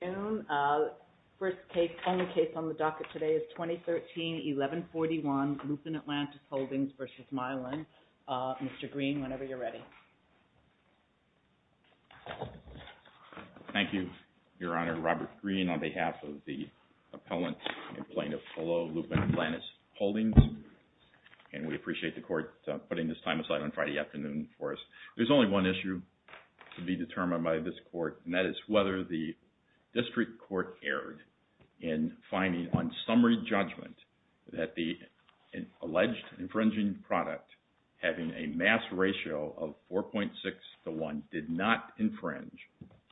Thank you, Your Honor. Robert Greene on behalf of the Appellant and Plaintiff below Lupin Atlantis Holdings, and we appreciate the Court putting this time aside on Friday afternoon for us. There's only one issue to be determined by this Court, and that is whether the District Court erred in finding on summary judgment that the alleged infringing product having a mass ratio of 4.6 to 1 did not infringe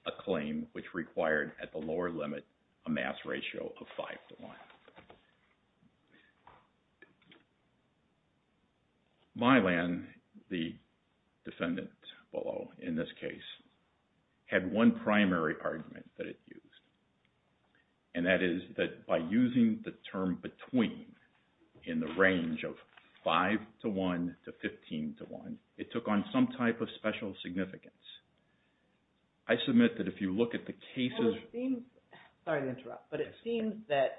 a claim which required at the lower limit a mass ratio of 5 to 1. Mylan, the defendant below in this case, had one primary argument that it used, and that is that by using the term between in the range of 5 to 1 to 15 to 1, it took on some type of special significance. I submit that if you look at the cases... Sorry to interrupt, but it seems that...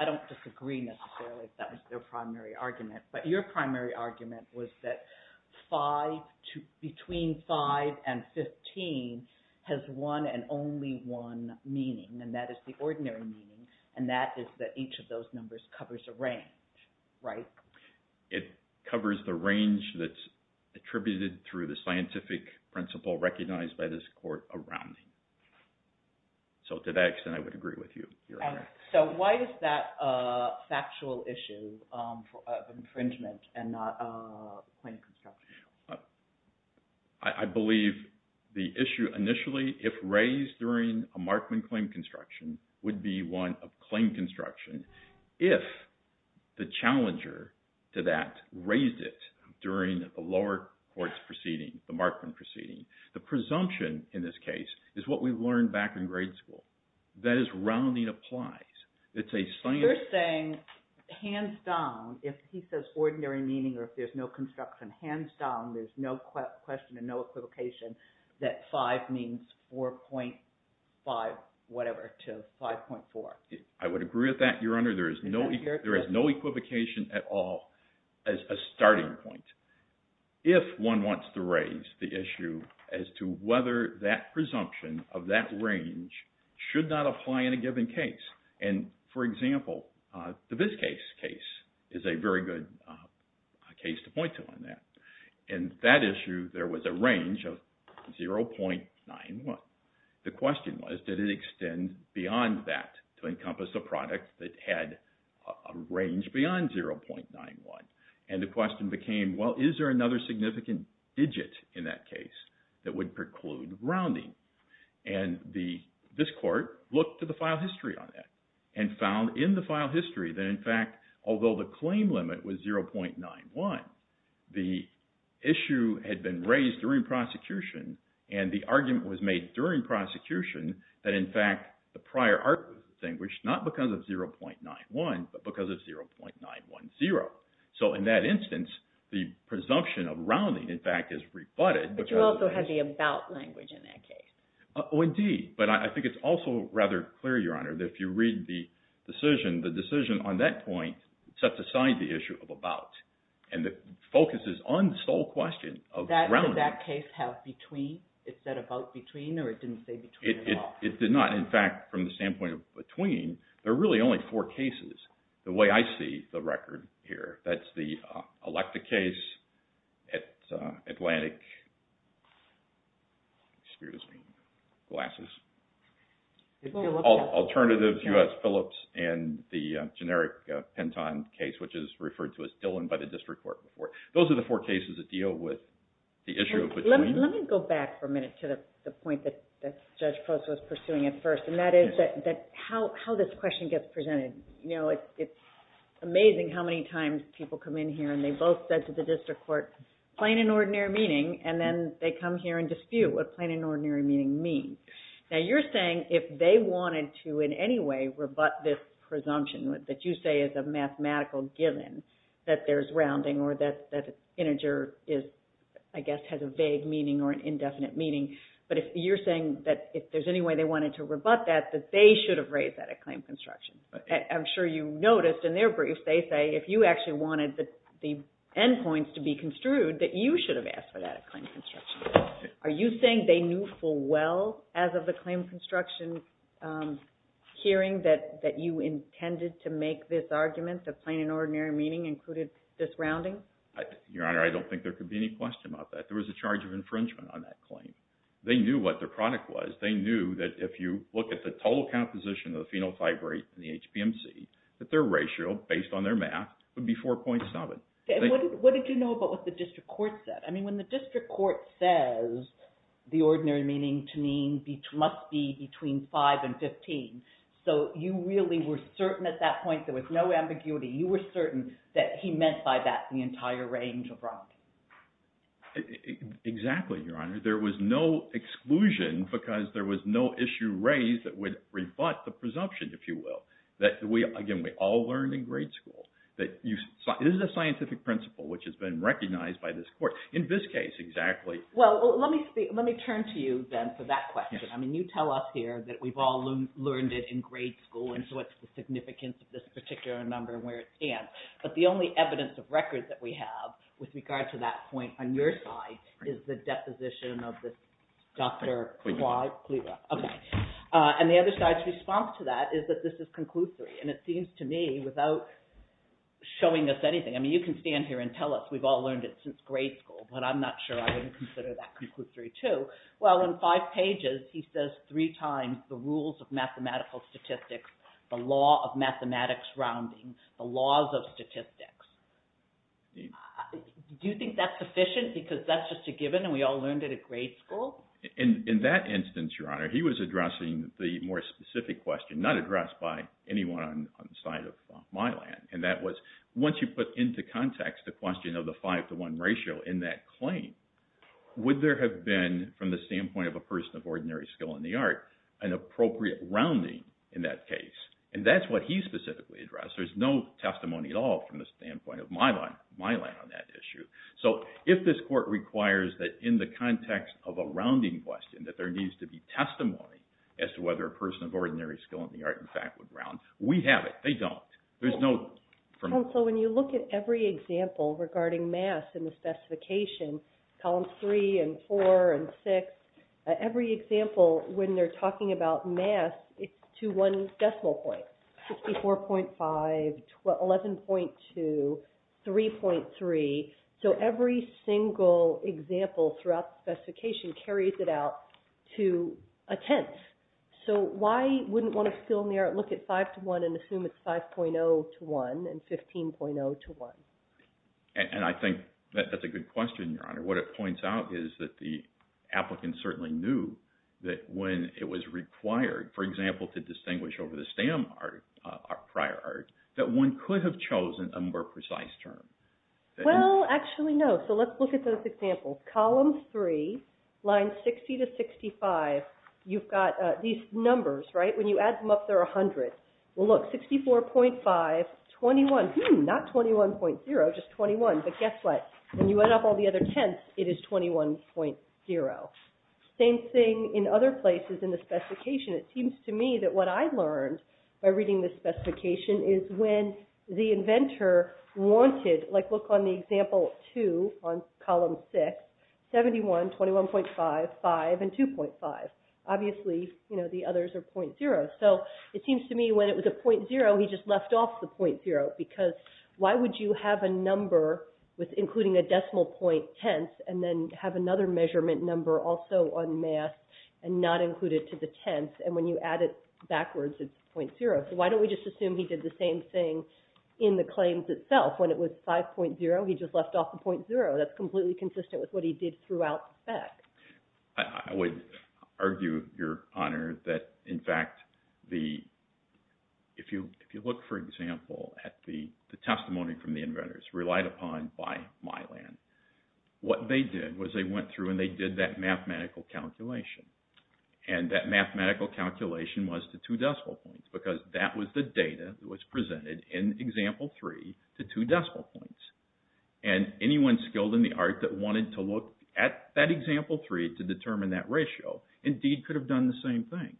I don't disagree necessarily if that was their primary argument, but your primary argument was that between 5 and 15 has one and only one meaning, and that is the ordinary meaning, and that is that each of those numbers covers a range, right? ROBERT GREENE It covers the range that's attributed through the scientific principle recognized by this Court around me. So to that extent, I would agree with you, Your Honor. LAUREN ZALAZNICK So why is that a factual issue of infringement and not a claim construction? ROBERT GREENE I believe the issue initially, if raised during a Markman claim construction, would be one of claim construction. If the challenger to that raised it during the lower court's proceeding, the Markman proceeding, the presumption in this case is what we learned back in grade school. That is, rounding applies. It's a standard... LAUREN ZALAZNICK You're saying, hands down, if he says ordinary meaning or if there's no construction, hands down, there's no question and no equivocation that 5 means 4.5 whatever to 5.4. ROBERT GREENE I would agree with that, Your Honor. There is no equivocation at all as a starting point if one wants to raise the issue as to whether that presumption of that range should not apply in a given case. And for example, the VizCase case is a very good case to point to on that. In that issue, there was a range of 0.91. The question was, did it extend beyond that to encompass a product that had a range beyond 0.91? And the question became, well, is there another significant digit in that case that would preclude rounding? And this court looked to the file history on that and found in the file history that, in fact, although the claim limit was 0.91, the issue had been raised during prosecution and the argument was made during prosecution that, in fact, the prior argument was distinguished not because of 0.91 but because of 0.910. So in that instance, the presumption of rounding, in fact, is rebutted. JANET RANKIN But you also had the about language in that case. ROBERT GREENE Oh, indeed. But I think it's also rather clear, Your Honor, that if you read the decision, the decision on that point sets aside the issue of about and focuses on the sole question of rounding. JANET RANKIN That did that case have between? Is that about between, or it didn't say between at all? ROBERT GREENE It did not. In fact, from the standpoint of between, there are really only four cases. The way I see the record here, that's the Electa case, Atlantic, excuse me, Glasses, Alternatives, U.S. Phillips, and the generic Penton case, which is referred to as Dillon by the District Court. Those are the four cases that deal with the issue of between. JANET RANKIN Let me go back for a minute to the point that Judge Prost was pursuing at first, and that is how this question gets presented. It's amazing how many times people come in here, and they both said to the District Court, plain and ordinary meaning, and then they come here and dispute what plain and ordinary meaning means. Now, you're saying if they wanted to in any way rebut this presumption that you say is a mathematical given, that there's rounding, or that integer, I guess, has a vague meaning or an indefinite meaning, but you're saying that if there's any way they wanted to rebut that, that they should have raised that at claim construction. I'm sure you noticed in their brief, they say if you actually wanted the endpoints to be construed, that you should have asked for that at claim construction. Are you saying they knew full well as of the claim construction hearing that you intended to make this argument that Your Honor, I don't think there could be any question about that. There was a charge of infringement on that claim. They knew what their product was. They knew that if you look at the total composition of the phenotype rate in the HPMC, that their ratio, based on their math, would be 4.7. What did you know about what the District Court said? I mean, when the District Court says the ordinary meaning to mean must be between 5 and 15, so you really were certain at that point there was no ambiguity. You were certain that he meant by that the entire range of rocks. Exactly, Your Honor. There was no exclusion because there was no issue raised that would rebut the presumption, if you will, that we, again, we all learned in grade school that this is a scientific principle, which has been recognized by this Court. In this case, exactly. Well, let me turn to you then for that question. I mean, you tell us here that we've all learned it in grade school, and so what's the significance of this particular number and where it stands. But the only evidence of records that we have with regard to that point on your side is the deposition of this Dr. Clyde Cleaver. And the other side's response to that is that this is conclusory. And it seems to me, without showing us anything, I mean, you can stand here and tell us we've all learned it since grade school, but I'm not sure I would consider that mathematical statistics, the law of mathematics rounding, the laws of statistics. Do you think that's sufficient because that's just a given and we all learned it at grade school? In that instance, Your Honor, he was addressing the more specific question not addressed by anyone on the side of my land. And that was, once you put into context the question of the five-to-one ratio in that claim, would there have been, from the standpoint of a person of ordinary skill, would there have been a rounding in that case? And that's what he specifically addressed. There's no testimony at all from the standpoint of my land on that issue. So, if this Court requires that in the context of a rounding question, that there needs to be testimony as to whether a person of ordinary skill in the art, in fact, would round, we have it. They don't. There's no... Counsel, when you look at every example regarding mass in the to one decimal point, 64.5, 11.2, 3.3. So, every single example throughout the specification carries it out to a tenth. So, why wouldn't one of skill in the art look at five-to-one and assume it's 5.0 to one and 15.0 to one? And I think that's a good question, Your Honor. What it points out is that the applicant certainly knew that when it was required, for example, to distinguish over the stamp prior art, that one could have chosen a more precise term. Well, actually, no. So, let's look at those examples. Columns three, lines 60 to 65, you've got these numbers, right? When you add them up, there are 100. Well, look, 64.5, 21. Not 21.0, just 21. But guess what? When you add up all the other tenths, it is 21.0. Same thing in other places in the specification. It seems to me that what I learned by reading the specification is when the inventor wanted, like look on the example two on column six, 71, 21.5, 5, and 2.5. Obviously, you know, the others are .0. So, it seems to me when it was a .0, he just left off the .0 because why would you have a number with including a decimal point tenths and then have another measurement number also on math and not include it to the tenths? And when you add it backwards, it's .0. So, why don't we just assume he did the same thing in the claims itself? When it was 5.0, he just left off the .0. That's completely consistent with what he did throughout that. I would argue, Your Honor, that in fact, if you look, for example, at the testimony from the inventors relied upon by Mylan, what they did was they went through and they did that mathematical calculation. And that mathematical calculation was to two decimal points because that was the data that was presented in example three to two decimal points. And anyone skilled in the art that wanted to look at that example three to determine that ratio indeed could have done the same thing.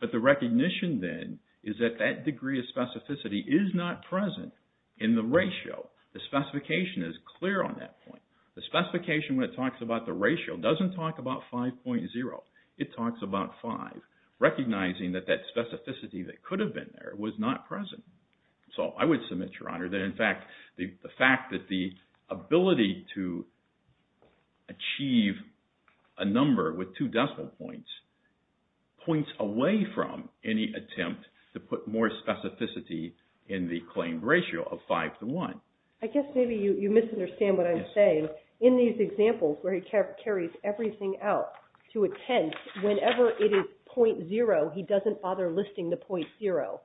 But the recognition then is that that degree of specificity is not present in the ratio. The specification is clear on that point. The specification when it talks about the ratio doesn't talk about 5.0. It talks about 5, recognizing that that specificity that could have been there was not present. So, I would submit, Your Honor, that in fact, the fact that the inventor was able to achieve a number with two decimal points, points away from any attempt to put more specificity in the claimed ratio of five to one. I guess maybe you misunderstand what I'm saying. In these examples where he carries everything out to a tenth, whenever it is .0, he doesn't bother listing the .0.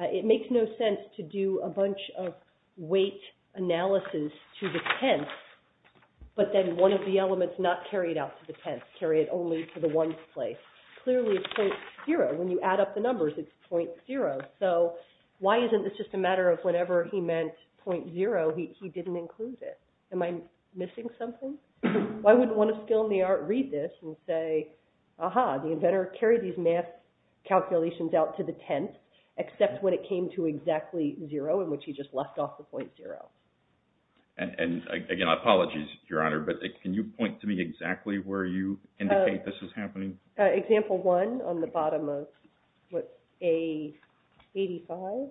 It makes no sense to do a bunch of weight analysis to the tenth but then one of the elements not carried out to the tenth, carry it only to the one's place. Clearly, it's .0. When you add up the numbers, it's .0. So, why isn't this just a matter of whenever he meant .0, he didn't include this? Am I missing something? Why wouldn't one of skilled in the art read this and say, aha, the inventor carried these math calculations out to the tenth except when it came to exactly zero in which he just left off the .0? And again, I apologize, Your Honor, but can you point to me exactly where you indicate this is happening? Example one on the bottom of A85.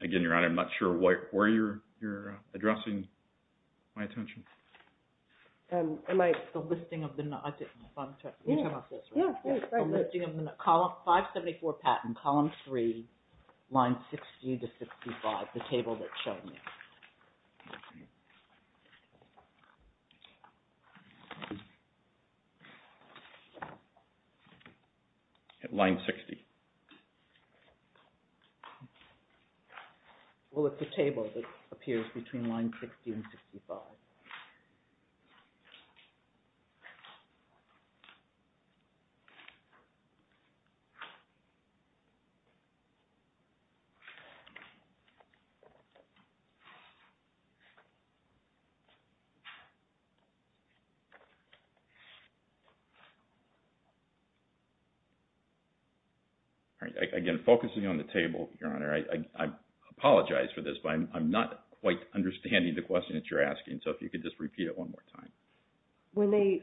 Again, Your Honor, I'm not sure where you're addressing my attention. Column 574, Patent, Column 3, Lines 60 to 65, the table that's shown. At line 60. Well, it's the table that appears between line 60 and 65. All right. Again, focusing on the table, Your Honor, I apologize for this, but I'm not quite understanding the question that you're asking. So, if you could just repeat it one more time.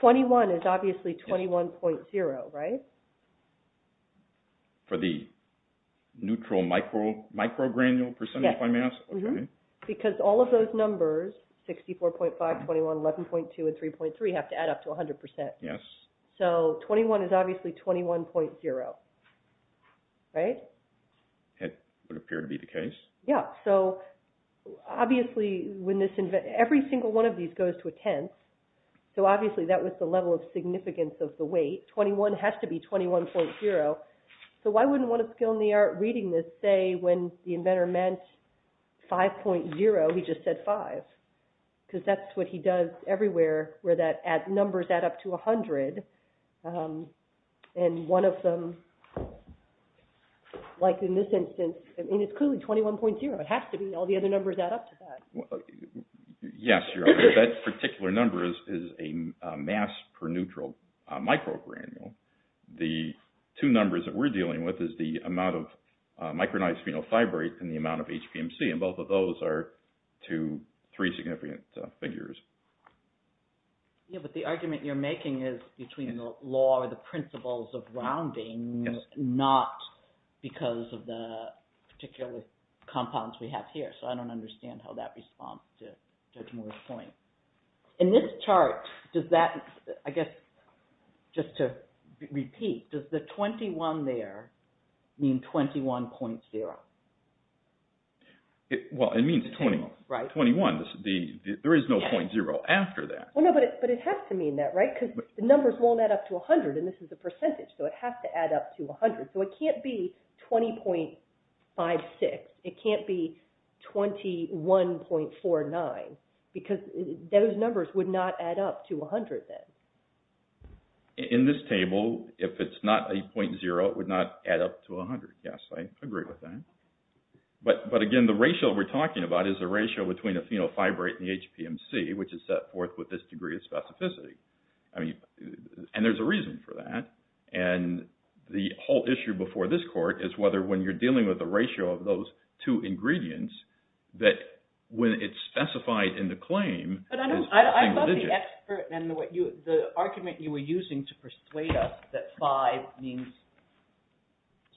21 is obviously 21.0, right? For the neutral microgranule percentage by mass? Because all of those numbers, 64.5, 21, 11.2, and 3.3 have to add up to 100%. So, 21 is obviously 21.0, right? It would appear to be the case. Yeah. So, obviously, every single one of these goes to a tenth. So, obviously, that was the level of significance of the weight. 21 has to be 21.0. So, I wouldn't want a skill in the art reading this say when the inventor meant 5.0, he just said 5. Because that's what he does everywhere, where that numbers add up to 100. And one of them, like in this instance, and it's clearly 21.0. It has to be. All the other numbers add up to that. Yes, Your Honor. That particular number is a mass per neutral microgranule. The two numbers that we're dealing with is the amount of three significant figures. Yeah, but the argument you're making is between the law or the principles of rounding, not because of the particular compounds we have here. So, I don't understand how that responds to Judge Moore's point. In this chart, does that, I guess, just to repeat, does the 21 there mean 21.0? Well, it means 21. There is no .0 after that. Well, no, but it has to mean that, right? Because the numbers won't add up to 100, and this is a percentage. So, it has to add up to 100. So, it can't be 20.56. It can't be 21.49. Because those numbers would not add up to 100 then. In this table, if it's not a .0, it would not add up to 100. Yes, I agree with that. But again, the ratio we're talking about is the ratio between a phenol fibrate and the HPMC, which is set forth with this degree of specificity. And there's a reason for that. And the whole issue before this court is whether when you're dealing with the ratio of those two ingredients, that when it's specified in the claim, it's being religious. But I thought the expert and the argument you were using to persuade us that five means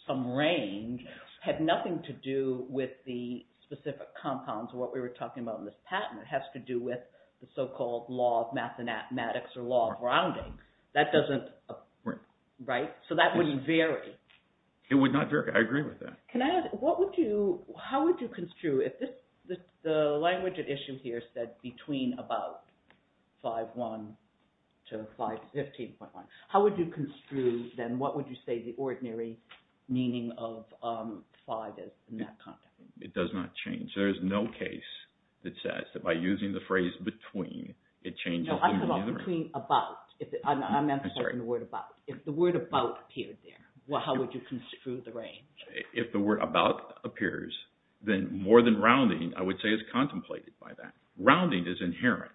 some range had nothing to do with the specific compounds, what we were talking about in this patent. It has to do with the so-called law of mathematics or law of rounding. That doesn't, right? So, that wouldn't vary. It would not vary. I agree with that. Can I ask, what would you, how would you construe if this, the language at issue here said between about 5.1 to 5.15.1, how would you construe then, what would you say the ordinary meaning of five is in that context? It does not change. There is no case that says that by using the phrase between, it changes. No, I'm talking about, I'm answering the word about. If the word about appeared there, how would you construe the range? If the word about appears, then more than rounding, I would say is contemplated by that. Rounding is inherent.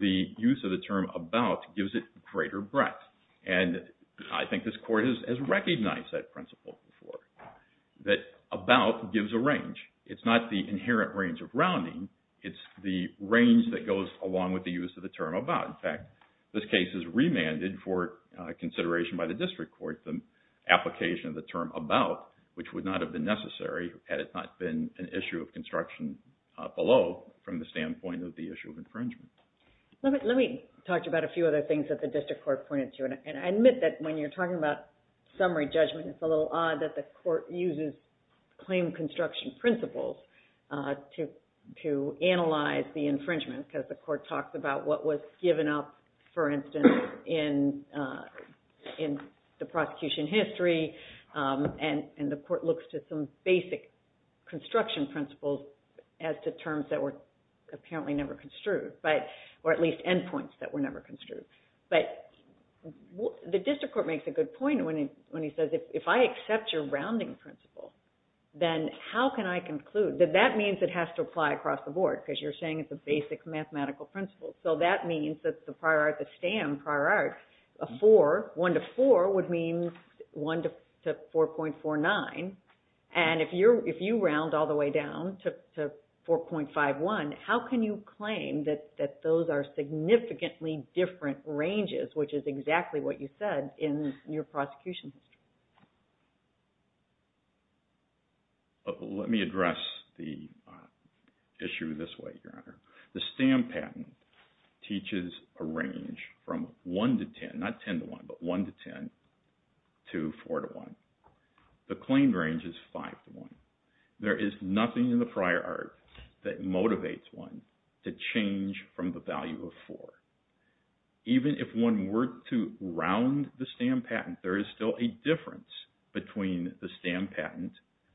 The use of the term about gives it greater breadth. And I think this court has recognized that principle before, that about gives a range. It's not the inherent range of rounding. It's the range that goes along with the use of the term about. In fact, this case is remanded for consideration by the district court, the application of the term about, which would have been necessary had it not been an issue of construction below from the standpoint of the issue of infringement. Let me talk to you about a few other things that the district court pointed to. And I admit that when you're talking about summary judgment, it's a little odd that the court uses claim construction principles to analyze the infringement because the court talks about what was given up, for instance, in the prosecution history. And the court looks to some basic construction principles as to terms that were apparently never construed, or at least endpoints that were never construed. But the district court makes a good point when he says, if I accept your rounding principle, then how can I conclude? That means it has to apply across the board because you're saying it's a basic mathematical principle. So that means that the prior art, the STAM prior art, a 4, 1 to 4 would mean 1 to 4.49. And if you round all the way down to 4.51, how can you claim that those are significantly different ranges, which is exactly what you said in your prosecution? Let me address the issue this way, Your Honor. The STAM patent teaches a range from 1 to 10, not 10 to 1, but 1 to 10, to 4 to 1. The claim range is 5 to 1. There is nothing in the prior art that motivates one to change from the value of 4. Even if one were to round the STAM patent, there is still a difference between the STAM patent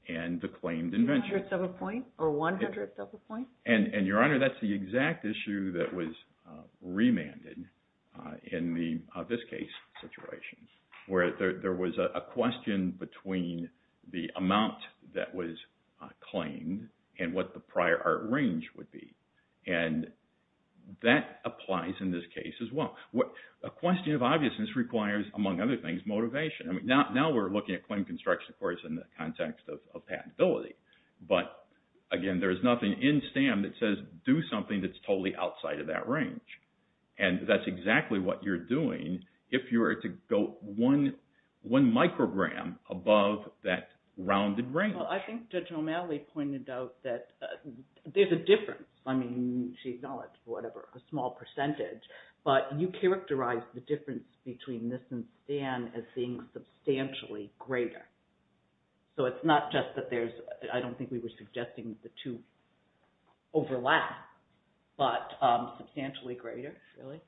and the claimed invention. One hundredth of a point, or one hundredth of a point? And, Your Honor, that's the exact issue that was remanded in this case situation, where there was a question between the amount that was claimed and what the prior art range would be. And that applies in this case as well. A question of obviousness requires, among other things, motivation. I mean, now we're looking at claim construction, of course, in the context of patentability. But, again, there is nothing in STAM that says, do something that's totally outside of that range. And that's exactly what you're doing if you were to go one microgram above that rounded range. Well, I think Judge O'Malley pointed out that there's a difference. I mean, she acknowledged, whatever, a small percentage. But you characterize the difference between this and STAM as being substantially greater. So it's not just that I don't think we were suggesting the two overlap, but substantially greater, really?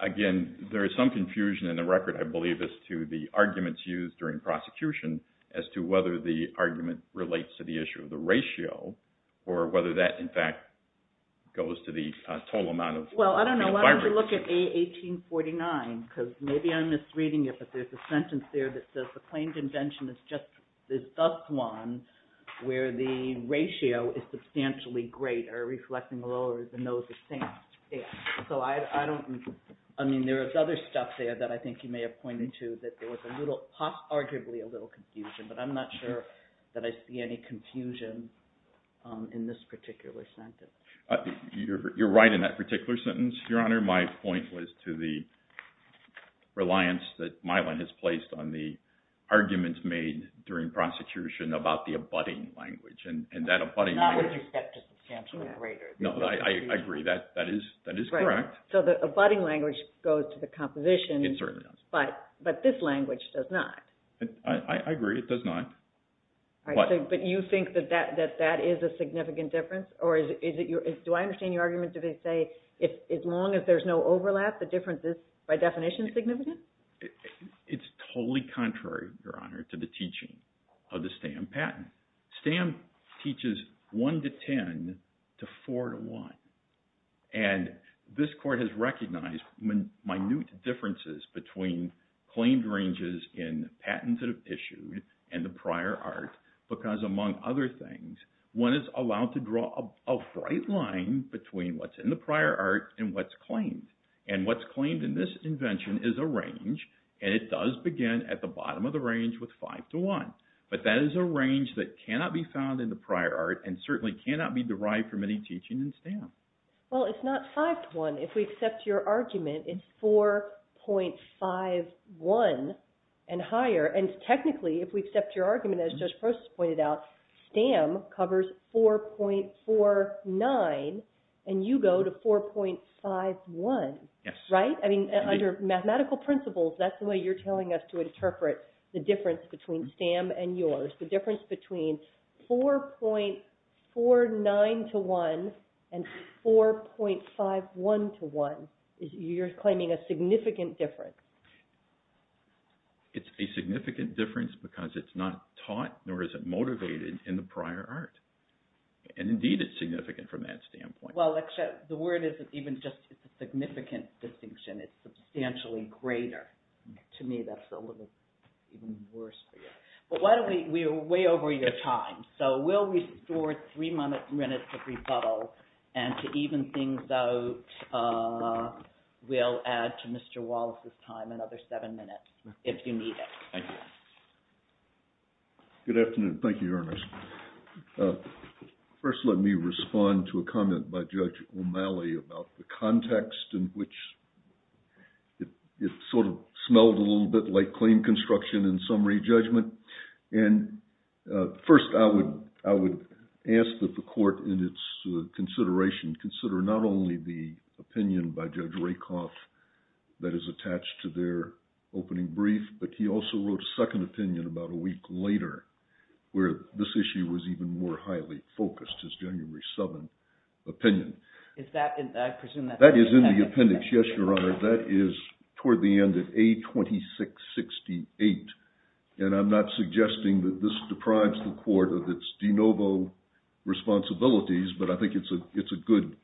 Again, there is some confusion in the record, I believe, as to the arguments used during prosecution as to whether the argument relates to the issue of the ratio or whether that, in fact, goes to the total amount of... Well, I don't know. Why don't we look at A1849? Because maybe I'm misreading it, but there's a sentence there that says the claimed invention is just this dust wand where the ratio is substantially greater, reflecting lower than those of STAM. So I don't... I mean, there is other stuff there that I think you may have pointed to that there was arguably a little confusion, but I'm not sure that I see any confusion in this particular sentence. You're right in that particular sentence, Your Honor. My point was to the reliance that Mylan has placed on the arguments made during prosecution about the abutting language, and that abutting language... Not what you said, just substantially greater. No, I agree. That is correct. So the abutting language goes to the composition. It certainly does. But this language does not. I agree. It does not. But you think that that is a significant difference? Do I understand your argument to say as long as there's no overlap, the difference is by definition significant? It's totally contrary, Your Honor, to the teaching of the STAM patent. STAM teaches one to ten to four to one. And this Court has recognized minute differences between claimed ranges in patents that have issued and the prior art because, among other things, one is allowed to draw a bright line between what's in the prior art and what's claimed. And what's claimed in this invention is a range, and it does begin at the bottom of the range with five to one. But that is a range that cannot be found in the prior art and certainly cannot be derived from any teaching in STAM. Well, it's not five to one. If we accept your argument, it's 4.51 and higher. And technically, if we accept your argument, as Judge Prost pointed out, STAM covers 4.49 and you go to 4.51, right? I mean, under mathematical principles, that's the way you're telling us to interpret the difference between STAM and yours, the difference between 4.49 to one and 4.51 to one. You're claiming a significant difference. It's a significant difference because it's not taught nor is it motivated in the prior art. And indeed, it's significant from that standpoint. Well, the word isn't even just a significant distinction. It's substantially greater. To me, that's a little even worse for you. But we're way over your time. So we'll restore three minutes of rebuttal and to even things out, we'll add to Mr. Wallace's time another seven minutes if you need it. Thank you. Good afternoon. Thank you, Ernest. First, let me respond to a comment by Judge O'Malley about the context in which it sort of smelled a little bit like claim construction in summary judgment. And first, I would ask that the court, in its consideration, consider not only the opening brief, but he also wrote a second opinion about a week later, where this issue was even more highly focused, his January 7 opinion. That is in the appendix. Yes, Your Honor. That is toward the end of A2668. And I'm not suggesting that this deprives the court of its de novo responsibilities, but I think it's a good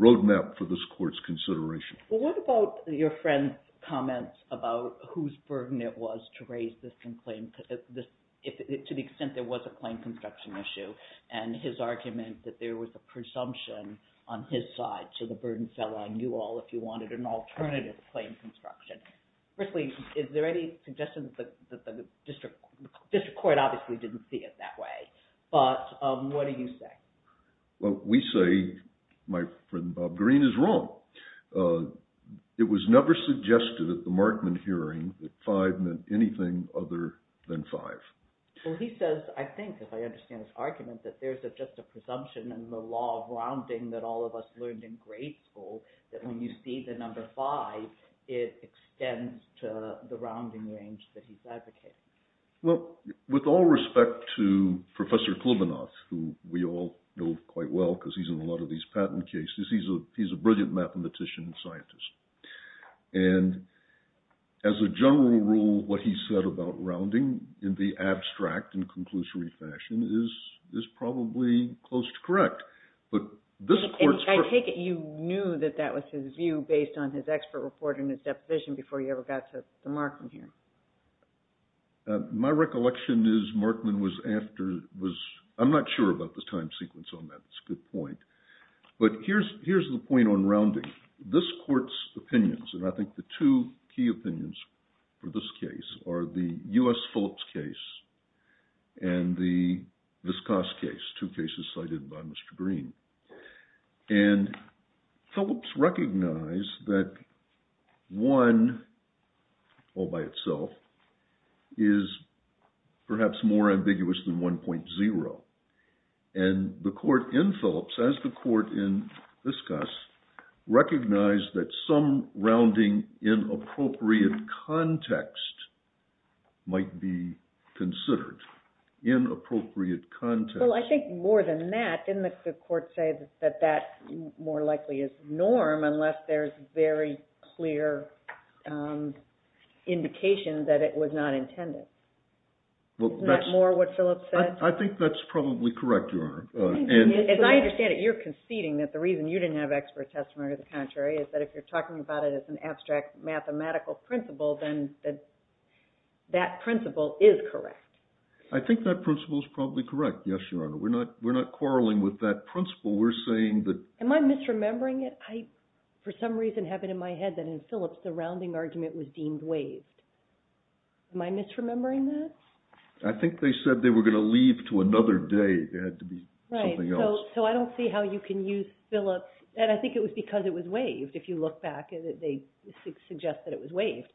roadmap for this court's consideration. Well, what about your friend's comments about whose burden it was to raise this to the extent there was a claim construction issue, and his argument that there was a presumption on his side, so the burden fell on you all if you wanted an alternative claim construction. Firstly, is there any suggestion that the district court obviously didn't see it that way, but what do you say? Well, we say my friend Bob Green is wrong. It was never suggested at the Markman hearing that five meant anything other than five. Well, he says, I think, if I understand his argument, that there's just a presumption in the law of rounding that all of us learned in grade school, that when you see the number five, it Well, with all respect to Professor Klibanoff, who we all know quite well, because he's in a lot of these patent cases, he's a brilliant mathematician and scientist. And as a general rule, what he said about rounding in the abstract and conclusory fashion is probably close to correct. I take it you knew that that was his view based on his expert report and his My recollection is Markman was after, I'm not sure about the time sequence on that, it's a good point. But here's the point on rounding. This court's opinions, and I think the two key opinions for this case are the U.S. Phillips case and the Vizcos case, two cases cited by Mr. Green. And Phillips recognized that one, all by itself, is perhaps more ambiguous than 1.0. And the court in Phillips, as the court in Vizcos, recognized that some rounding in appropriate context might be considered. In appropriate context. Well, I think more than that, didn't the court say that that more likely is norm unless there's very clear indication that it was not intended? Isn't that more what Phillips said? I think that's probably correct, Your Honor. As I understand it, you're conceding that the reason you didn't have expert testimony, is that if you're talking about it as an abstract mathematical principle, that principle is correct. I think that principle is probably correct, yes, Your Honor. We're not quarreling with that principle. We're saying that... Am I misremembering it? I, for some reason, have it in my head that in Phillips, the rounding argument was deemed waived. Am I misremembering that? I think they said they were going to leave to another day. It had to be something else. So I don't see how you can use Phillips, and I think it was because it was waived. If you look back, they suggest that it was waived.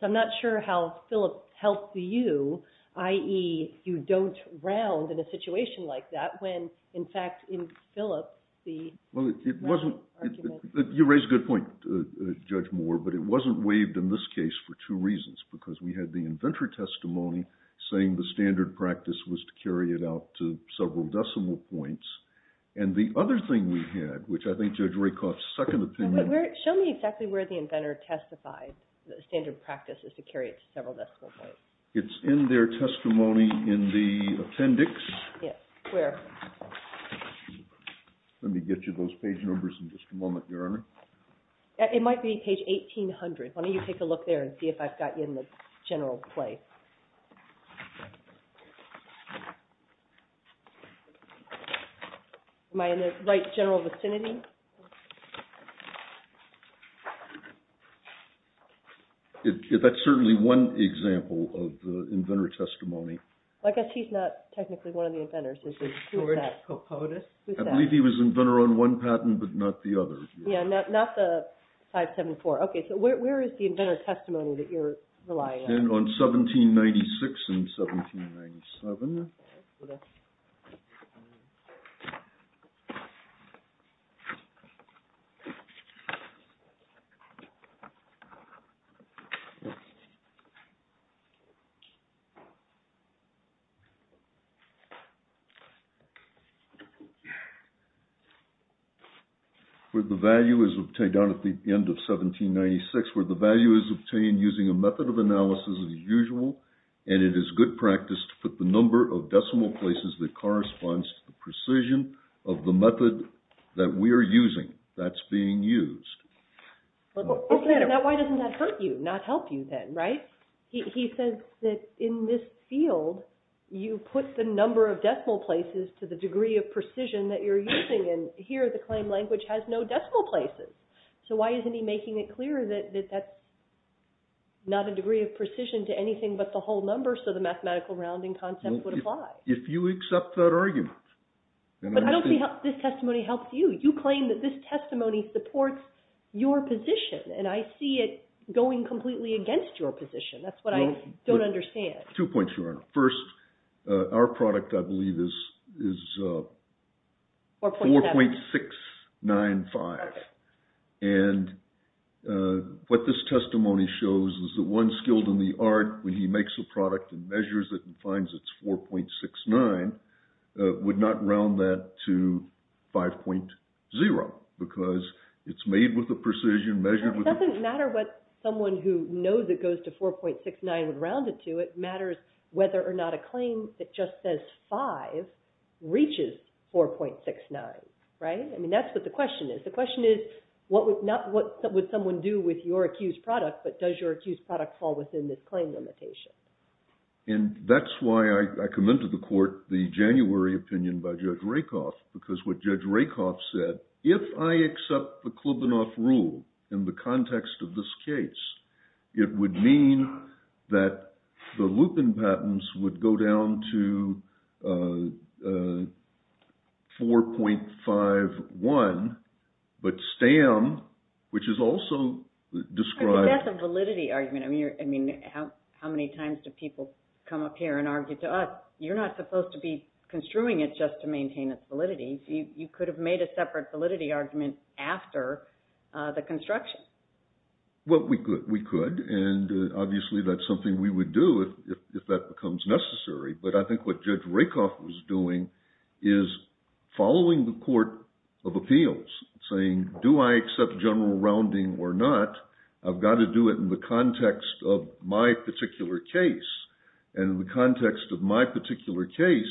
So I'm not sure how Phillips helped you, i.e., you don't round in a situation like that when, in fact, in Phillips, the rounding argument... Well, you raise a good point, Judge Moore, but it wasn't waived in this case for two reasons, because we had the inventor testimony saying the standard practice was to carry it out to several decimal points, and the other thing we had, which I think Judge Rakoff's second opinion... Show me exactly where the inventor testified the standard practice is to carry it to several decimal points. It's in their testimony in the appendix. Yes, where? Let me get you those page numbers in just a moment, Your Honor. It might be page 1800. Why don't you take a look there and see if I've got you in the general place. Am I in the right general vicinity? That's certainly one example of the inventor testimony. I guess he's not technically one of the inventors. George Coppola? I believe he was inventor on one patent, but not the other. Yes, not the 574. Okay, so where is the inventor testimony that you're relying on? On 1796 and 1797. Where the value is obtained down at the end of 1796, where the value is obtained using a method of analysis as usual, and it is good practice to put the number of decimal places that corresponds to the precision of the method that we are using that's being used. Now, why doesn't that hurt you, not help you then, right? He says that in this field, you put the number of decimal places to the degree of precision that you're using, and here the claim language has no decimal places. So why isn't he making it clear that that's not a degree of precision to anything but the whole number, so the mathematical rounding concept would apply? If you accept that argument. But I don't see how this testimony helps you. You claim that this testimony supports your position, and I see it going completely against your position. That's what I don't understand. Two points, Your Honor. First, our product, I believe, is 4.695. And what this testimony shows is that one skilled in the art, when he makes a product and measures it and finds it's 4.69, would not round that to 5.0, because it's made with the precision, measured with the precision. It doesn't matter what someone who knows it goes to 4.69 would round it to. It matters whether or not a claim that just says 5 reaches 4.69, right? That's what the question is. The question is, what would someone do with your accused product, but does your accused product fall within this claim limitation? And that's why I come into the court, the January opinion by Judge Rakoff, because what Judge Rakoff said, if I accept the Klubinoff rule in the context of this case, it would mean that the Lupin patents would go down to 4.51, but Stam, which is also described— I think that's a validity argument. How many times do people come up here and argue to us, you're not supposed to be construing it just to maintain its validity. You could have made a separate validity argument after the construction. Well, we could, and obviously that's something we would do if that becomes necessary, but I think what Judge Rakoff was doing is following the court of appeals, saying, do I accept general rounding or not? I've got to do it in the context of my particular case, and in the context of my particular case,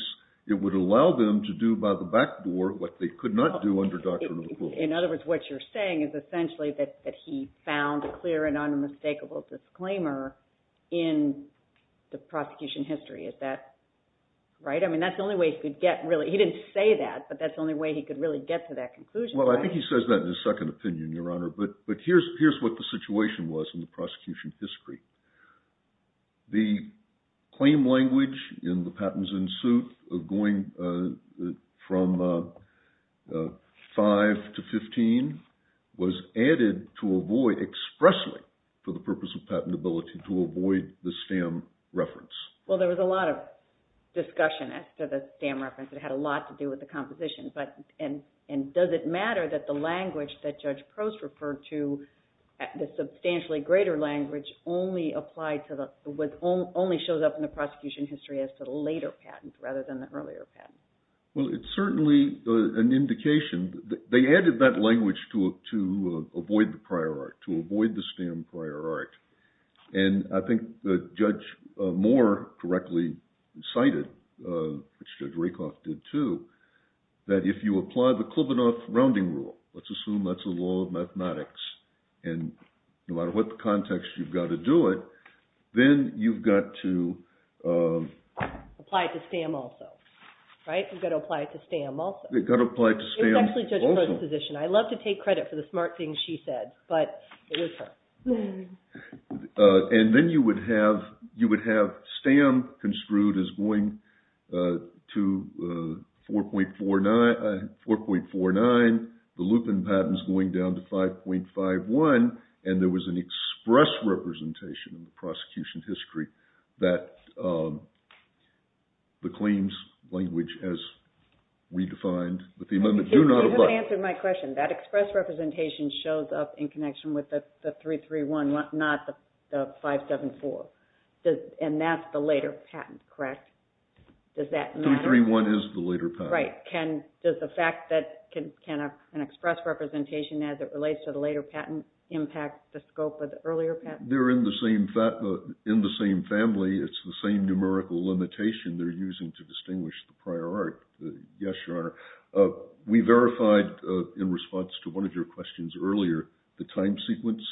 it would allow them to do by the back door what they could not do under doctrine of the courts. In other words, what you're saying is essentially that he found a clear and unmistakable disclaimer in the prosecution history. Is that right? I mean, that's the only way he could get really—he didn't say that, but that's the only way he could really get to that conclusion, right? Well, I think he says that in his second opinion, Your Honor, but here's what the situation was in the prosecution history. The claim language in the patents in suit going from 5 to 15 was added to avoid expressly for the purpose of patentability to avoid the STAM reference. Well, there was a lot of discussion after the STAM reference. It had a lot to do with the composition, and does it matter that the language that Judge Rakoff used only showed up in the prosecution history as to the later patents rather than the earlier patents? Well, it's certainly an indication. They added that language to avoid the prior art, to avoid the STAM prior art. And I think Judge Moore correctly cited, which Judge Rakoff did too, that if you apply the Klubinoff rounding rule, let's assume that's a law of mathematics, and no matter what context you've got to do it, then you've got to apply it to STAM also, right? You've got to apply it to STAM also. You've got to apply it to STAM also. It was actually Judge Moore's position. I love to take credit for the smart things she said, but it was her. And then you would have STAM construed as going to 4.49, the Lupin patents going down to 5.51, and there was an express representation in the prosecution history that the claims language has redefined, but the amendment do not apply. You haven't answered my question. That express representation shows up in connection with the 331, not the 574. And that's the later patent, correct? Does that matter? 331 is the later patent. Does the fact that it can have an express representation as it relates to the later patent impact the scope of the earlier patent? They're in the same family. It's the same numerical limitation they're using to distinguish the prior art. We verified, in response to one of your questions earlier, the time sequence.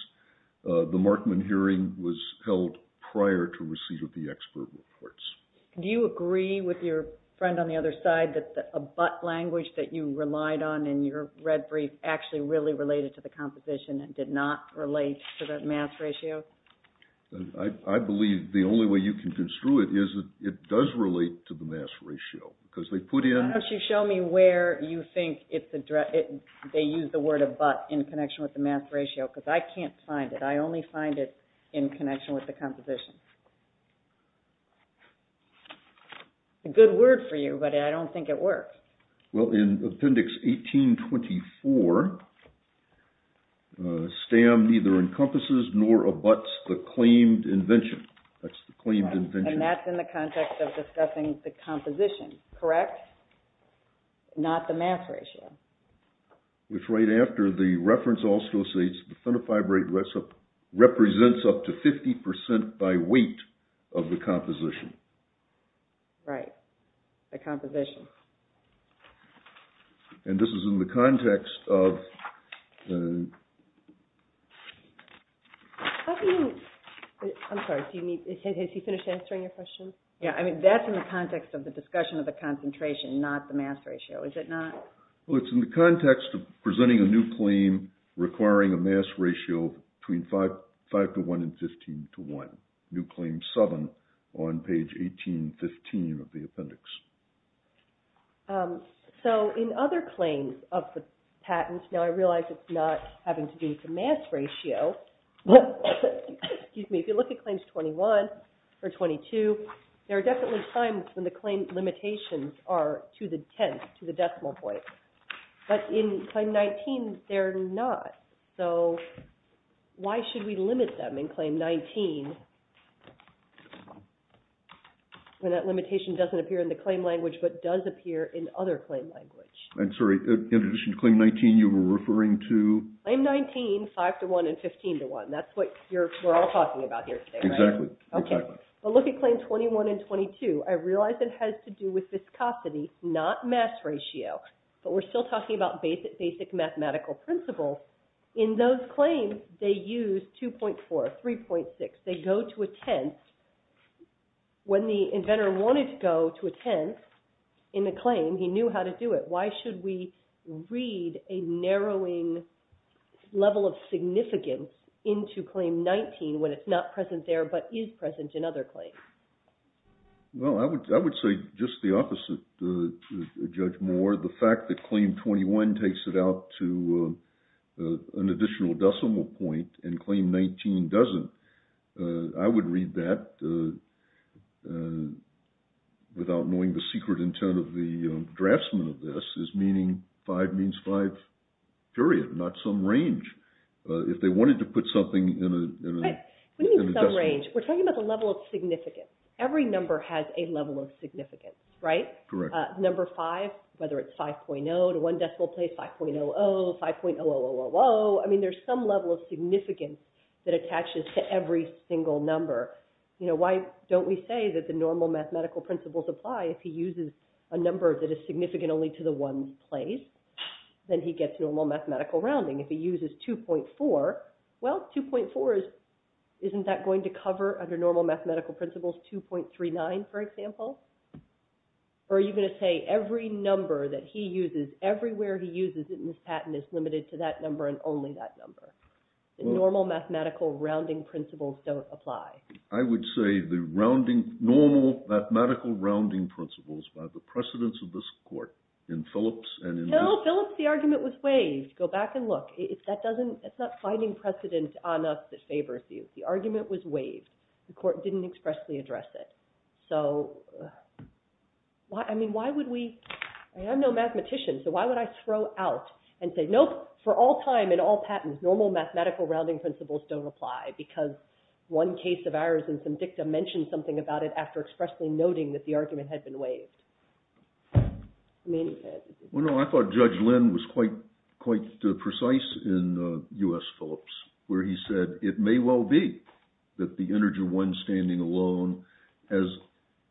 The Markman hearing was held prior to receipt of the expert reports. Do you agree with your friend on the other side that a but language that you relied on in your red brief actually really related to the composition and did not relate to the mass ratio? I believe the only way you can construe it is it does relate to the mass ratio, because they put in- Why don't you show me where you think they use the word of but in connection with the mass ratio, because I can't find it. I only find it in connection with the composition. It's a good word for you, but I don't think it works. Well, in Appendix 1824, STAM neither encompasses nor abuts the claimed invention. That's the claimed invention. And that's in the context of discussing the composition, correct? Not the mass ratio. Which right after the reference also states the phenotype rate represents up to 50% by weight of the composition. Right, the composition. And this is in the context of- I'm sorry, has he finished answering your question? Yeah, I mean that's in the context of the discussion of the concentration, not the mass ratio, is it not? Well, it's in the context of presenting a new claim requiring a mass ratio between 5 to 1 and 15 to 1. New claim 7 on page 1815 of the appendix. So in other claims of the patents, now I realize it's not having to do with the mass ratio, but if you look at claims 21 or 22, there are definitely times when the claim limitations are to the tenth, to the decimal point. But in claim 19, they're not. So why should we limit them in claim 19 when that limitation doesn't appear in the claim language but does appear in other claim language? I'm sorry, in addition to claim 19, you were referring to- Claim 19, 5 to 1 and 15 to 1. That's what we're all talking about here today, right? Exactly, exactly. Okay, but look at claim 21 and 22. I realize it has to do with viscosity, not mass ratio. But we're still talking about basic mathematical principles. In those claims, they use 2.4, 3.6. They go to a tenth. When the inventor wanted to go to a tenth in the claim, he knew how to do it. Why should we read a narrowing level of significance into claim 19 when it's not present there but is present in other claims? Well, I would say just the opposite, Judge Moore. The fact that claim 21 takes it out to an additional decimal point and claim 19 doesn't, I would read that without knowing the secret intent of the draftsman of this, is meaning 5 means 5, period, not some range. If they wanted to put something in a- Right, what do you mean some range? We're talking about the level of significance. Every number has a level of significance, right? Correct. Number 5, whether it's 5.0 to one decimal place, 5.00, 5.000, I mean there's some level of significance that attaches to every single number. Why don't we say that the normal mathematical principles apply if he uses a number that is significant only to the one place, then he gets normal mathematical rounding. If he uses 2.4, well, 2.4 isn't that going to cover, under normal mathematical principles, 2.39, for example? Or are you going to say every number that he uses, everywhere he uses it in his patent is limited to that number and only that number? The normal mathematical rounding principles don't apply. I would say the normal mathematical rounding principles by the precedents of this court in Phillips and in- No, Phillips, the argument was waived. Go back and look. It's not finding precedent on us that favors you. The argument was waived. The court didn't expressly address it. So, I mean, why would we- I'm no mathematician, so why would I throw out and say, nope, for all time and all patents, normal mathematical rounding principles don't apply because one case of ours in Somdikta mentioned something about it after expressly noting that the argument had been waived. I thought Judge Lin was quite precise in U.S. Phillips, where he said it may well be that the integer one standing alone has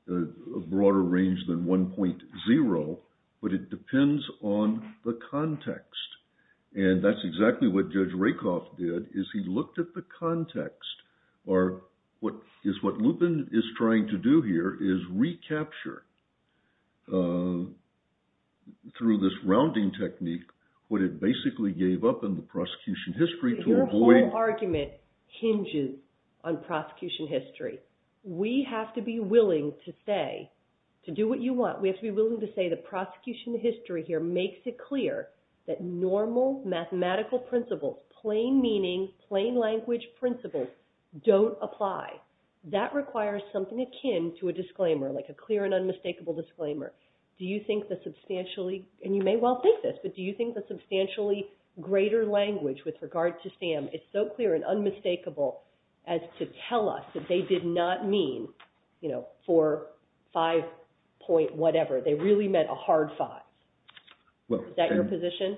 a broader range than 1.0, but it depends on the context. And that's exactly what Judge Rakoff did, is he looked at the context, or what Lupin is trying to do here is recapture through this rounding technique what it basically gave up in the prosecution history to avoid- Your whole argument hinges on prosecution history. We have to be willing to say, to do what you want, we have to be willing to say the prosecution history here makes it clear that normal mathematical principles, plain meaning, plain language principles don't apply. That requires something akin to a disclaimer, like a clear and unmistakable disclaimer. Do you think that substantially, and you may well think this, but do you think that substantially greater language with regard to SAM is so clear and unmistakable as to tell us that they did not mean, you know, four, five, point, whatever, they really meant a hard five? Is that your position?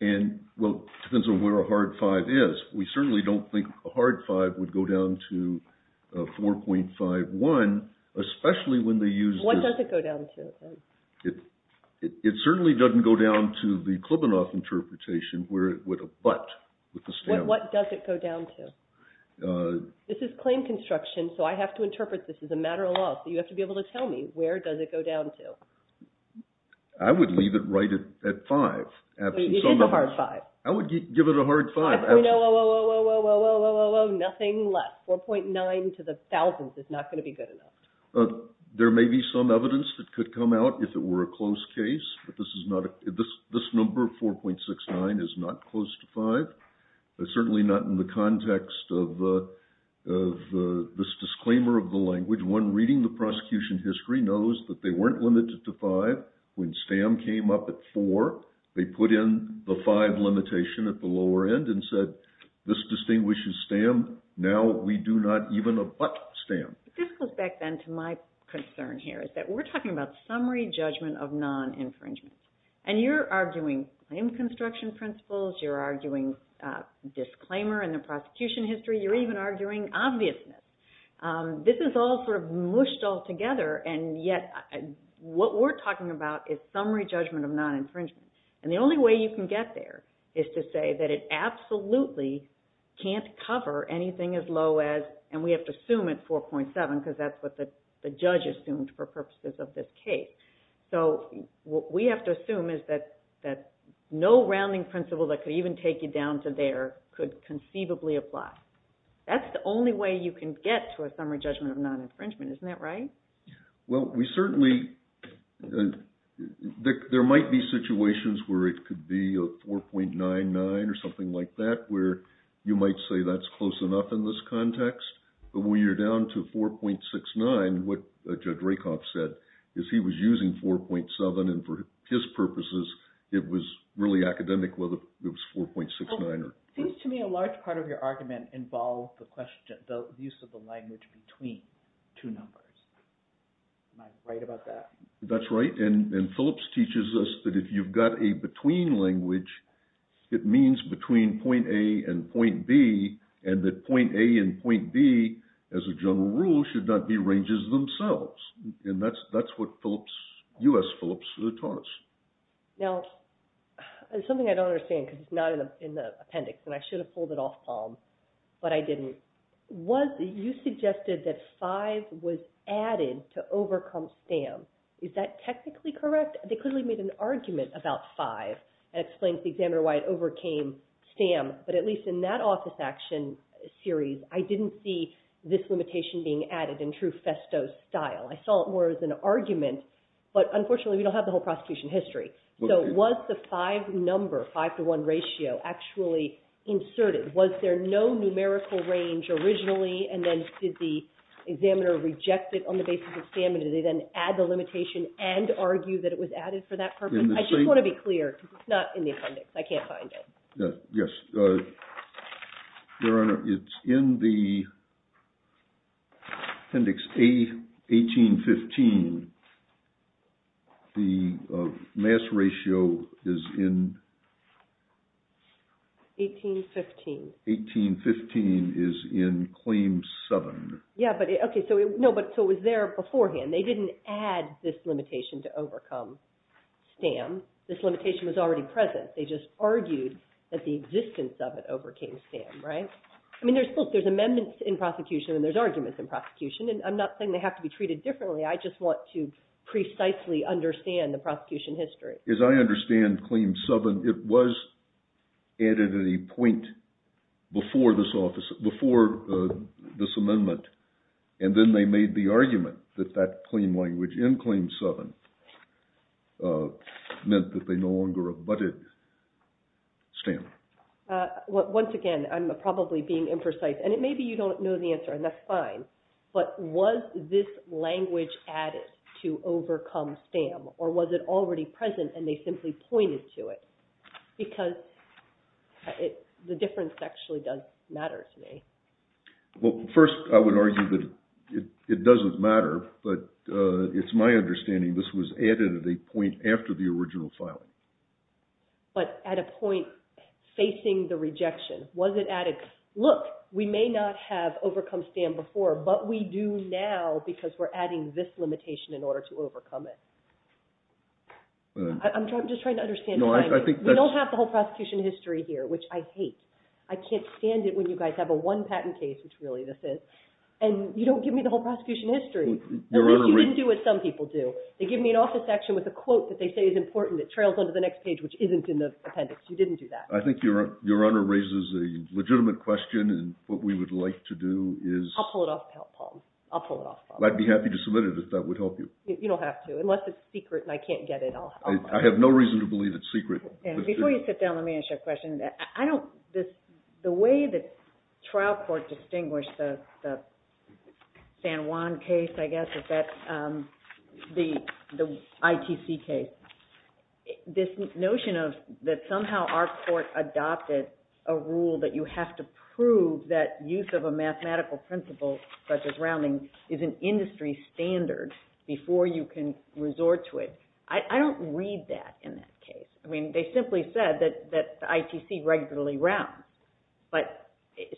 And, well, it depends on where a hard five is. We certainly don't think a hard five would go down to 4.51, especially when they used- What does it go down to? It certainly doesn't go down to the Klebanoff interpretation with a but, with a stamp. What does it go down to? This is claim construction, so I have to interpret this as a matter of law, so you have to be able to tell me, where does it go down to? I would leave it right at five. You did the hard five. I would give it a hard five. No, whoa, whoa, whoa, whoa, whoa, whoa, whoa, whoa, nothing less. 4.9 to the thousandth is not going to be good enough. There may be some evidence that could come out if it were a close case, but this number of 4.69 is not close to five. Certainly not in the context of this disclaimer of the language. One reading the prosecution history knows that they weren't limited to five. When STAM came up at four, they put in the five limitation at the lower end and said, this distinguishes STAM. Now we do not even abut STAM. This goes back then to my concern here, is that we're talking about summary judgment of non-infringement, and you're arguing claim construction principles. You're arguing disclaimer in the prosecution history. You're even arguing obviousness. This is all sort of mushed all together, and yet what we're talking about is summary judgment of non-infringement, and the only way you can get there is to say that it absolutely can't cover anything as low as, and we have to assume it's 4.7 because that's what the judge assumed for purposes of this case. So what we have to assume is that no rounding principle that could even take you down to there could conceivably apply. That's the only way you can get to a summary judgment of non-infringement. Isn't that right? Well, we certainly, there might be situations where it could be a 4.99 or something like that where you might say that's close enough in this context, but when you're down to 4.69, what Judge Rakoff said is he was using 4.7, and for his purposes, it was really academic whether it was 4.69 or not. Seems to me a large part of your argument involved the question, the use of the language between two numbers. Am I right about that? That's right, and Phillips teaches us that if you've got a between language, it means between point A and point B, and that point A and point B, as a general rule, should not be ranges themselves, and that's what Phillips, U.S. Phillips taught us. Now, something I don't understand, because it's not in the appendix, and I should have pulled it off, Paul, but I didn't. Was, you suggested that 5 was added to overcome STAM. Is that technically correct? They clearly made an argument about 5, and it explains the examiner why it overcame STAM, but at least in that office action series, I didn't see this limitation being added in true Festo style. I saw it more as an argument, but unfortunately, we don't have the whole prosecution history. So was the 5 number, 5 to 1 ratio, actually inserted? Was there no numerical range originally, and then did the examiner reject it on the basis of STAM, and did they then add the limitation and argue that it was added for that purpose? I just want to be clear, because it's not in the appendix. I can't find it. Yes, Your Honor, it's in the appendix 1815. The mass ratio is in... 1815. 1815 is in Claim 7. Yeah, but okay, so it was there beforehand. They didn't add this limitation to overcome STAM. This limitation was already present. They just argued that the existence of it overcame STAM, right? I mean, look, there's amendments in prosecution, and there's arguments in prosecution, and I'm not saying they have to be treated differently. I just want to precisely understand the prosecution history. As I understand Claim 7, it was added at a point before this amendment, and then they the argument that that claim language in Claim 7 meant that they no longer abutted STAM. Once again, I'm probably being imprecise, and maybe you don't know the answer, and that's fine, but was this language added to overcome STAM, or was it already present and they simply pointed to it? Because the difference actually does matter to me. Well, first, I would argue that it doesn't matter, but it's my understanding this was added at a point after the original filing. But at a point facing the rejection. Was it added? Look, we may not have overcome STAM before, but we do now because we're adding this limitation in order to overcome it. I'm just trying to understand the language. We don't have the whole prosecution history here, which I hate. I can't stand it when you guys have a one patent case, which really this is, and you don't give me the whole prosecution history. You didn't do what some people do. They give me an office section with a quote that they say is important that trails onto the next page, which isn't in the appendix. You didn't do that. I think your Honor raises a legitimate question, and what we would like to do is... I'll pull it off, Paul. I'll pull it off, Paul. I'd be happy to submit it if that would help you. You don't have to, unless it's secret and I can't get it. I have no reason to believe it's secret. Before you sit down, let me ask you a question. The way that trial court distinguished the San Juan case, I guess, is that the ITC case. This notion of that somehow our court adopted a rule that you have to prove that use of a mathematical principle such as rounding is an industry standard before you can resort to it. I don't read that in that case. They simply said that the ITC regularly rounds.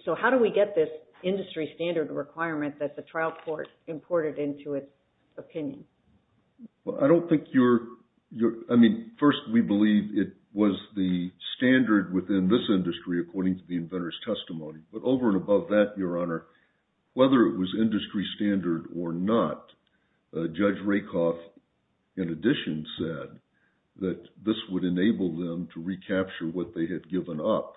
So how do we get this industry standard requirement that the trial court imported into its opinion? I don't think you're... First, we believe it was the standard within this industry according to the inventor's testimony. But over and above that, your Honor, whether it was industry standard or not, Judge Rakoff in addition said that this would enable them to recapture what they had given up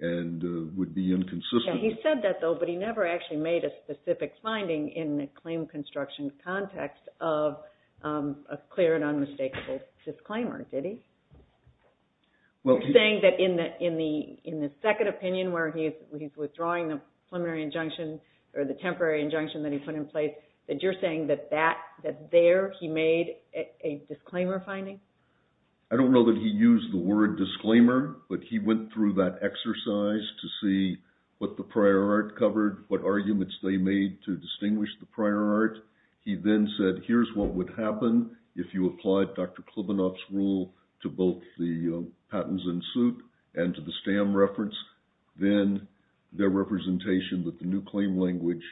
and would be inconsistent. Yeah, he said that though, but he never actually made a specific finding in the claim construction context of a clear and unmistakable disclaimer, did he? You're saying that in the second opinion where he's withdrawing the preliminary injunction or the temporary injunction that he put in place, that you're saying that there he made a disclaimer finding? I don't know that he used the word disclaimer, but he went through that exercise to see what the prior art covered, what arguments they made to distinguish the prior art. He then said, here's what would happen if you applied Dr. Klibanoff's rule to both the patents in suit and to the stamp reference, then their representation that the new claim language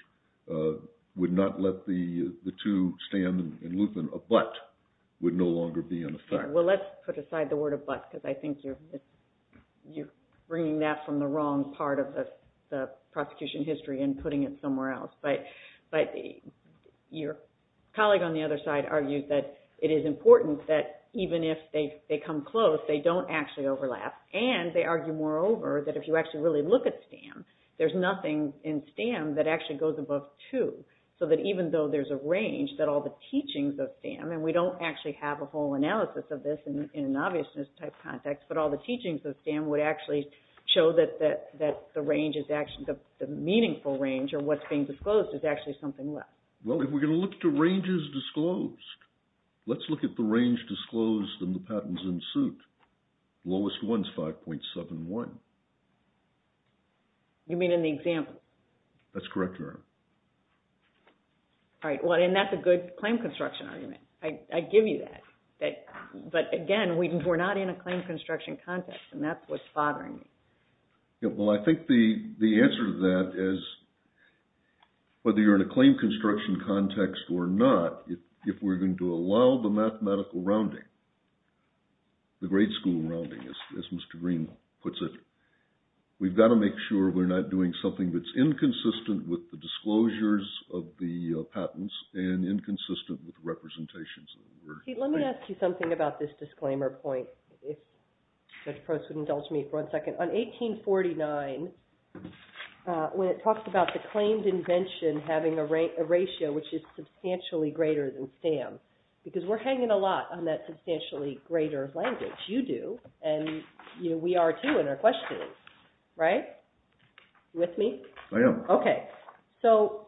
would not let the two stand in movement, a but would no longer be in effect. Well, let's put aside the word of but because I think you're bringing that from the wrong part of the prosecution history and putting it somewhere else. But your colleague on the other side argued that it is important that even if they come close, they don't actually overlap. And they argue moreover that if you actually really look at the stamp, there's nothing in stamp that actually goes above two. So that even though there's a range that all the teachings of stamp, and we don't actually have a whole analysis of this in an obviousness type context, but all the teachings of stamp would actually show that the range is actually the meaningful range or what's being disclosed is actually something less. Well, if we're going to look to ranges disclosed, let's look at the range disclosed in the patents in suit. Lowest one is 5.71. You mean in the example? That's correct, Your Honor. All right. Well, and that's a good claim construction argument. I give you that. But again, we're not in a claim construction context and that's what's bothering me. Yeah. Well, I think the answer to that is whether you're in a claim construction context or not, if we're going to allow the mathematical rounding, the grade school rounding, as Mr. Green puts it. We've got to make sure we're not doing something that's inconsistent with the disclosures of the patents and inconsistent with representations. Let me ask you something about this disclaimer point, if Judge Post would indulge me for one second. On 1849, when it talks about the claimed invention having a ratio which is substantially greater than stamp, because we're hanging a lot on that substantially greater language, you do, and we are too in our questioning, right? Are you with me? I am. Okay. So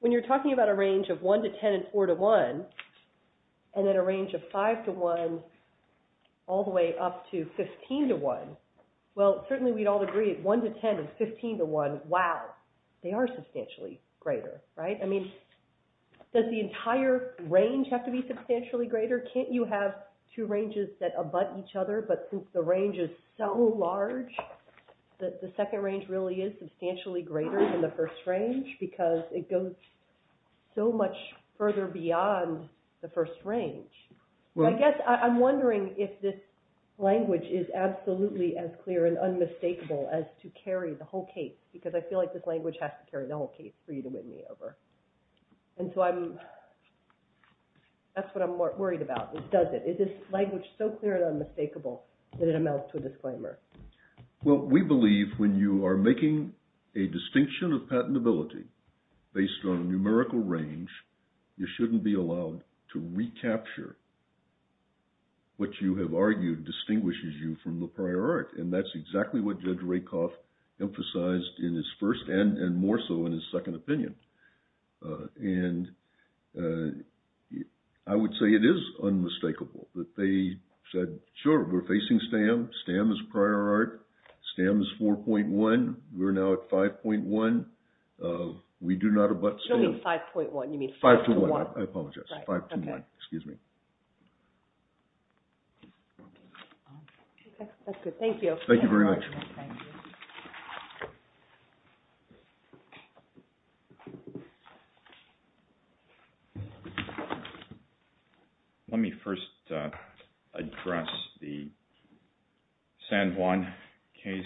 when you're talking about a range of 1 to 10 and 4 to 1, and then a range of 5 to 1 all the way up to 15 to 1, well, certainly we'd all agree 1 to 10 and 15 to 1, wow, they are substantially greater, right? I mean, does the entire range have to be substantially greater? Can't you have two ranges that abut each other? But since the range is so large, the second range really is substantially greater than the first range, because it goes so much further beyond the first range. I guess I'm wondering if this language is absolutely as clear and unmistakable as to carry the whole case, because I feel like this language has to carry the whole case for you to win me over. And so that's what I'm worried about, is does it? Is this language so clear and unmistakable that it amounts to a disclaimer? Well, we believe when you are making a distinction of patentability based on numerical range, you shouldn't be allowed to recapture what you have argued distinguishes you from the prior art. And that's exactly what Judge Rakoff emphasized in his first and more so in his second opinion. And I would say it is unmistakable that they said, sure, we're facing STAM. STAM is prior art. STAM is 4.1. We're now at 5.1. We do not abut STAM. You don't mean 5.1. You mean 5 to 1. I apologize. 5 to 1. Excuse me. That's good. Thank you. Thank you very much. Let me first address the San Juan case.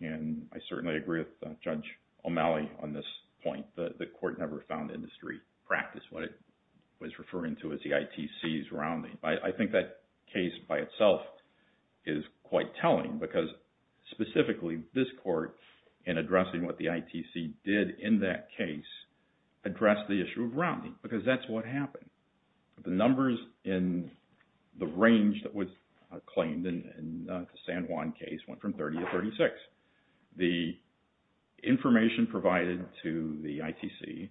And I certainly agree with Judge O'Malley on this point. The court never found industry practice what it was referring to as the ITCs rounding. I think that case by itself is quite telling because specifically this court in addressing what the ITC did in that case addressed the issue of rounding because that's what happened. The numbers in the range that was claimed in the San Juan case went from 30 to 36. The information provided to the ITC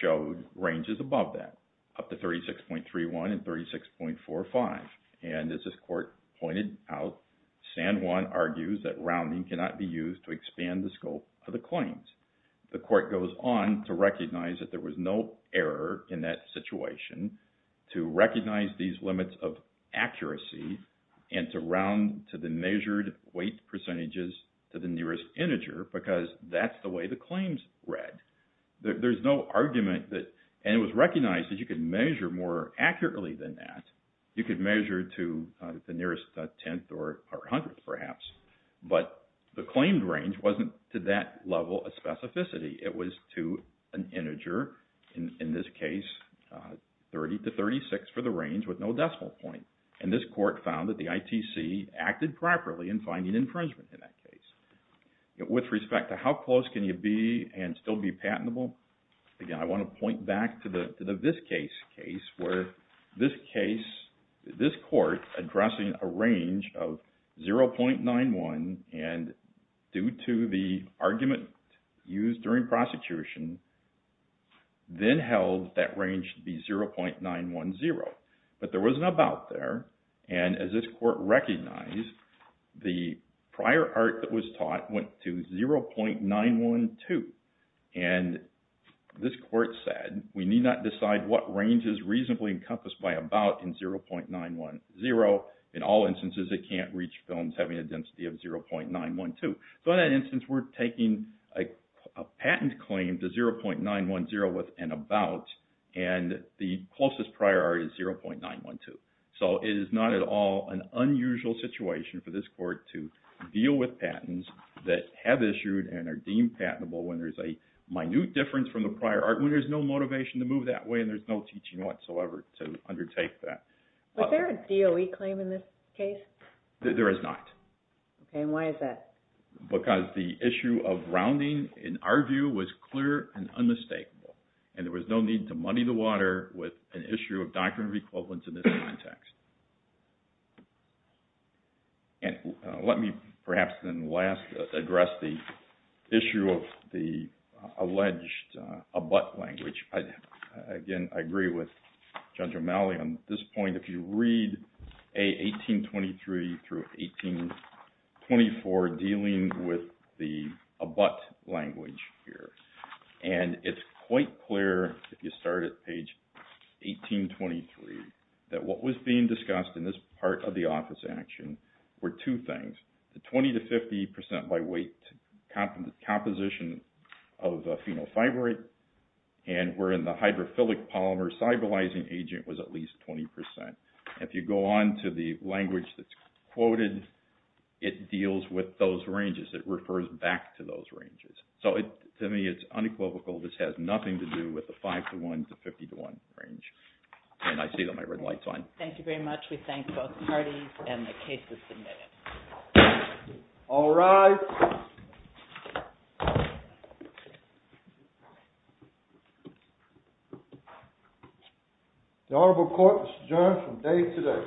showed ranges above that, up to 36.31 and 36.45. And as this court pointed out, San Juan argues that rounding cannot be used to expand the scope of the claims. The court goes on to recognize that there was no error in that situation to recognize these limits of accuracy and to round to the measured weight percentages to the nearest integer because that's the way the claims read. There's no argument that, and it was recognized that you could measure more accurately than that. You could measure to the nearest tenth or hundredth perhaps. But the claimed range wasn't to that level of specificity. It was to an integer, in this case, 30 to 36 for the range with no decimal point. And this court found that the ITC acted properly in finding infringement in that case. With respect to how close can you be and still be patentable, again, I want to point back to this case, where this case, this court addressing a range of 0.91 and due to the argument used during prosecution, then held that range to be 0.910. But there was an about there and as this court recognized, the prior art that was taught went to 0.912. And this court said, we need not decide what range is reasonably encompassed by about in 0.910. In all instances, it can't reach films having a density of 0.912. So in that instance, we're taking a patent claim to 0.910 with an about and the closest prior art is 0.912. So it is not at all an unusual situation for this court to deal with patents that have been issued and are deemed patentable when there's a minute difference from the prior art, when there's no motivation to move that way and there's no teaching whatsoever to undertake that. Was there a DOE claim in this case? There is not. And why is that? Because the issue of rounding, in our view, was clear and unmistakable. And there was no need to muddy the water with an issue of doctrine of equivalence in this context. And let me perhaps then last address the issue of the alleged abut language. Again, I agree with Judge O'Malley on this point. If you read A1823 through A1824 dealing with the abut language here, and it's quite clear if you start at page 1823 that what was being discussed in this part of the office action were two things. The 20 to 50 percent by weight composition of phenol fibrate and wherein the hydrophilic polymer sybilizing agent was at least 20 percent. If you go on to the language that's quoted, it deals with those ranges. It refers back to those ranges. So to me, it's unequivocal. This has nothing to do with the 5 to 1 to 50 to 1 range. And I see that my red light's on. Thank you very much. We thank both parties and the cases submitted. All rise. The Honorable Court is adjourned from day to day.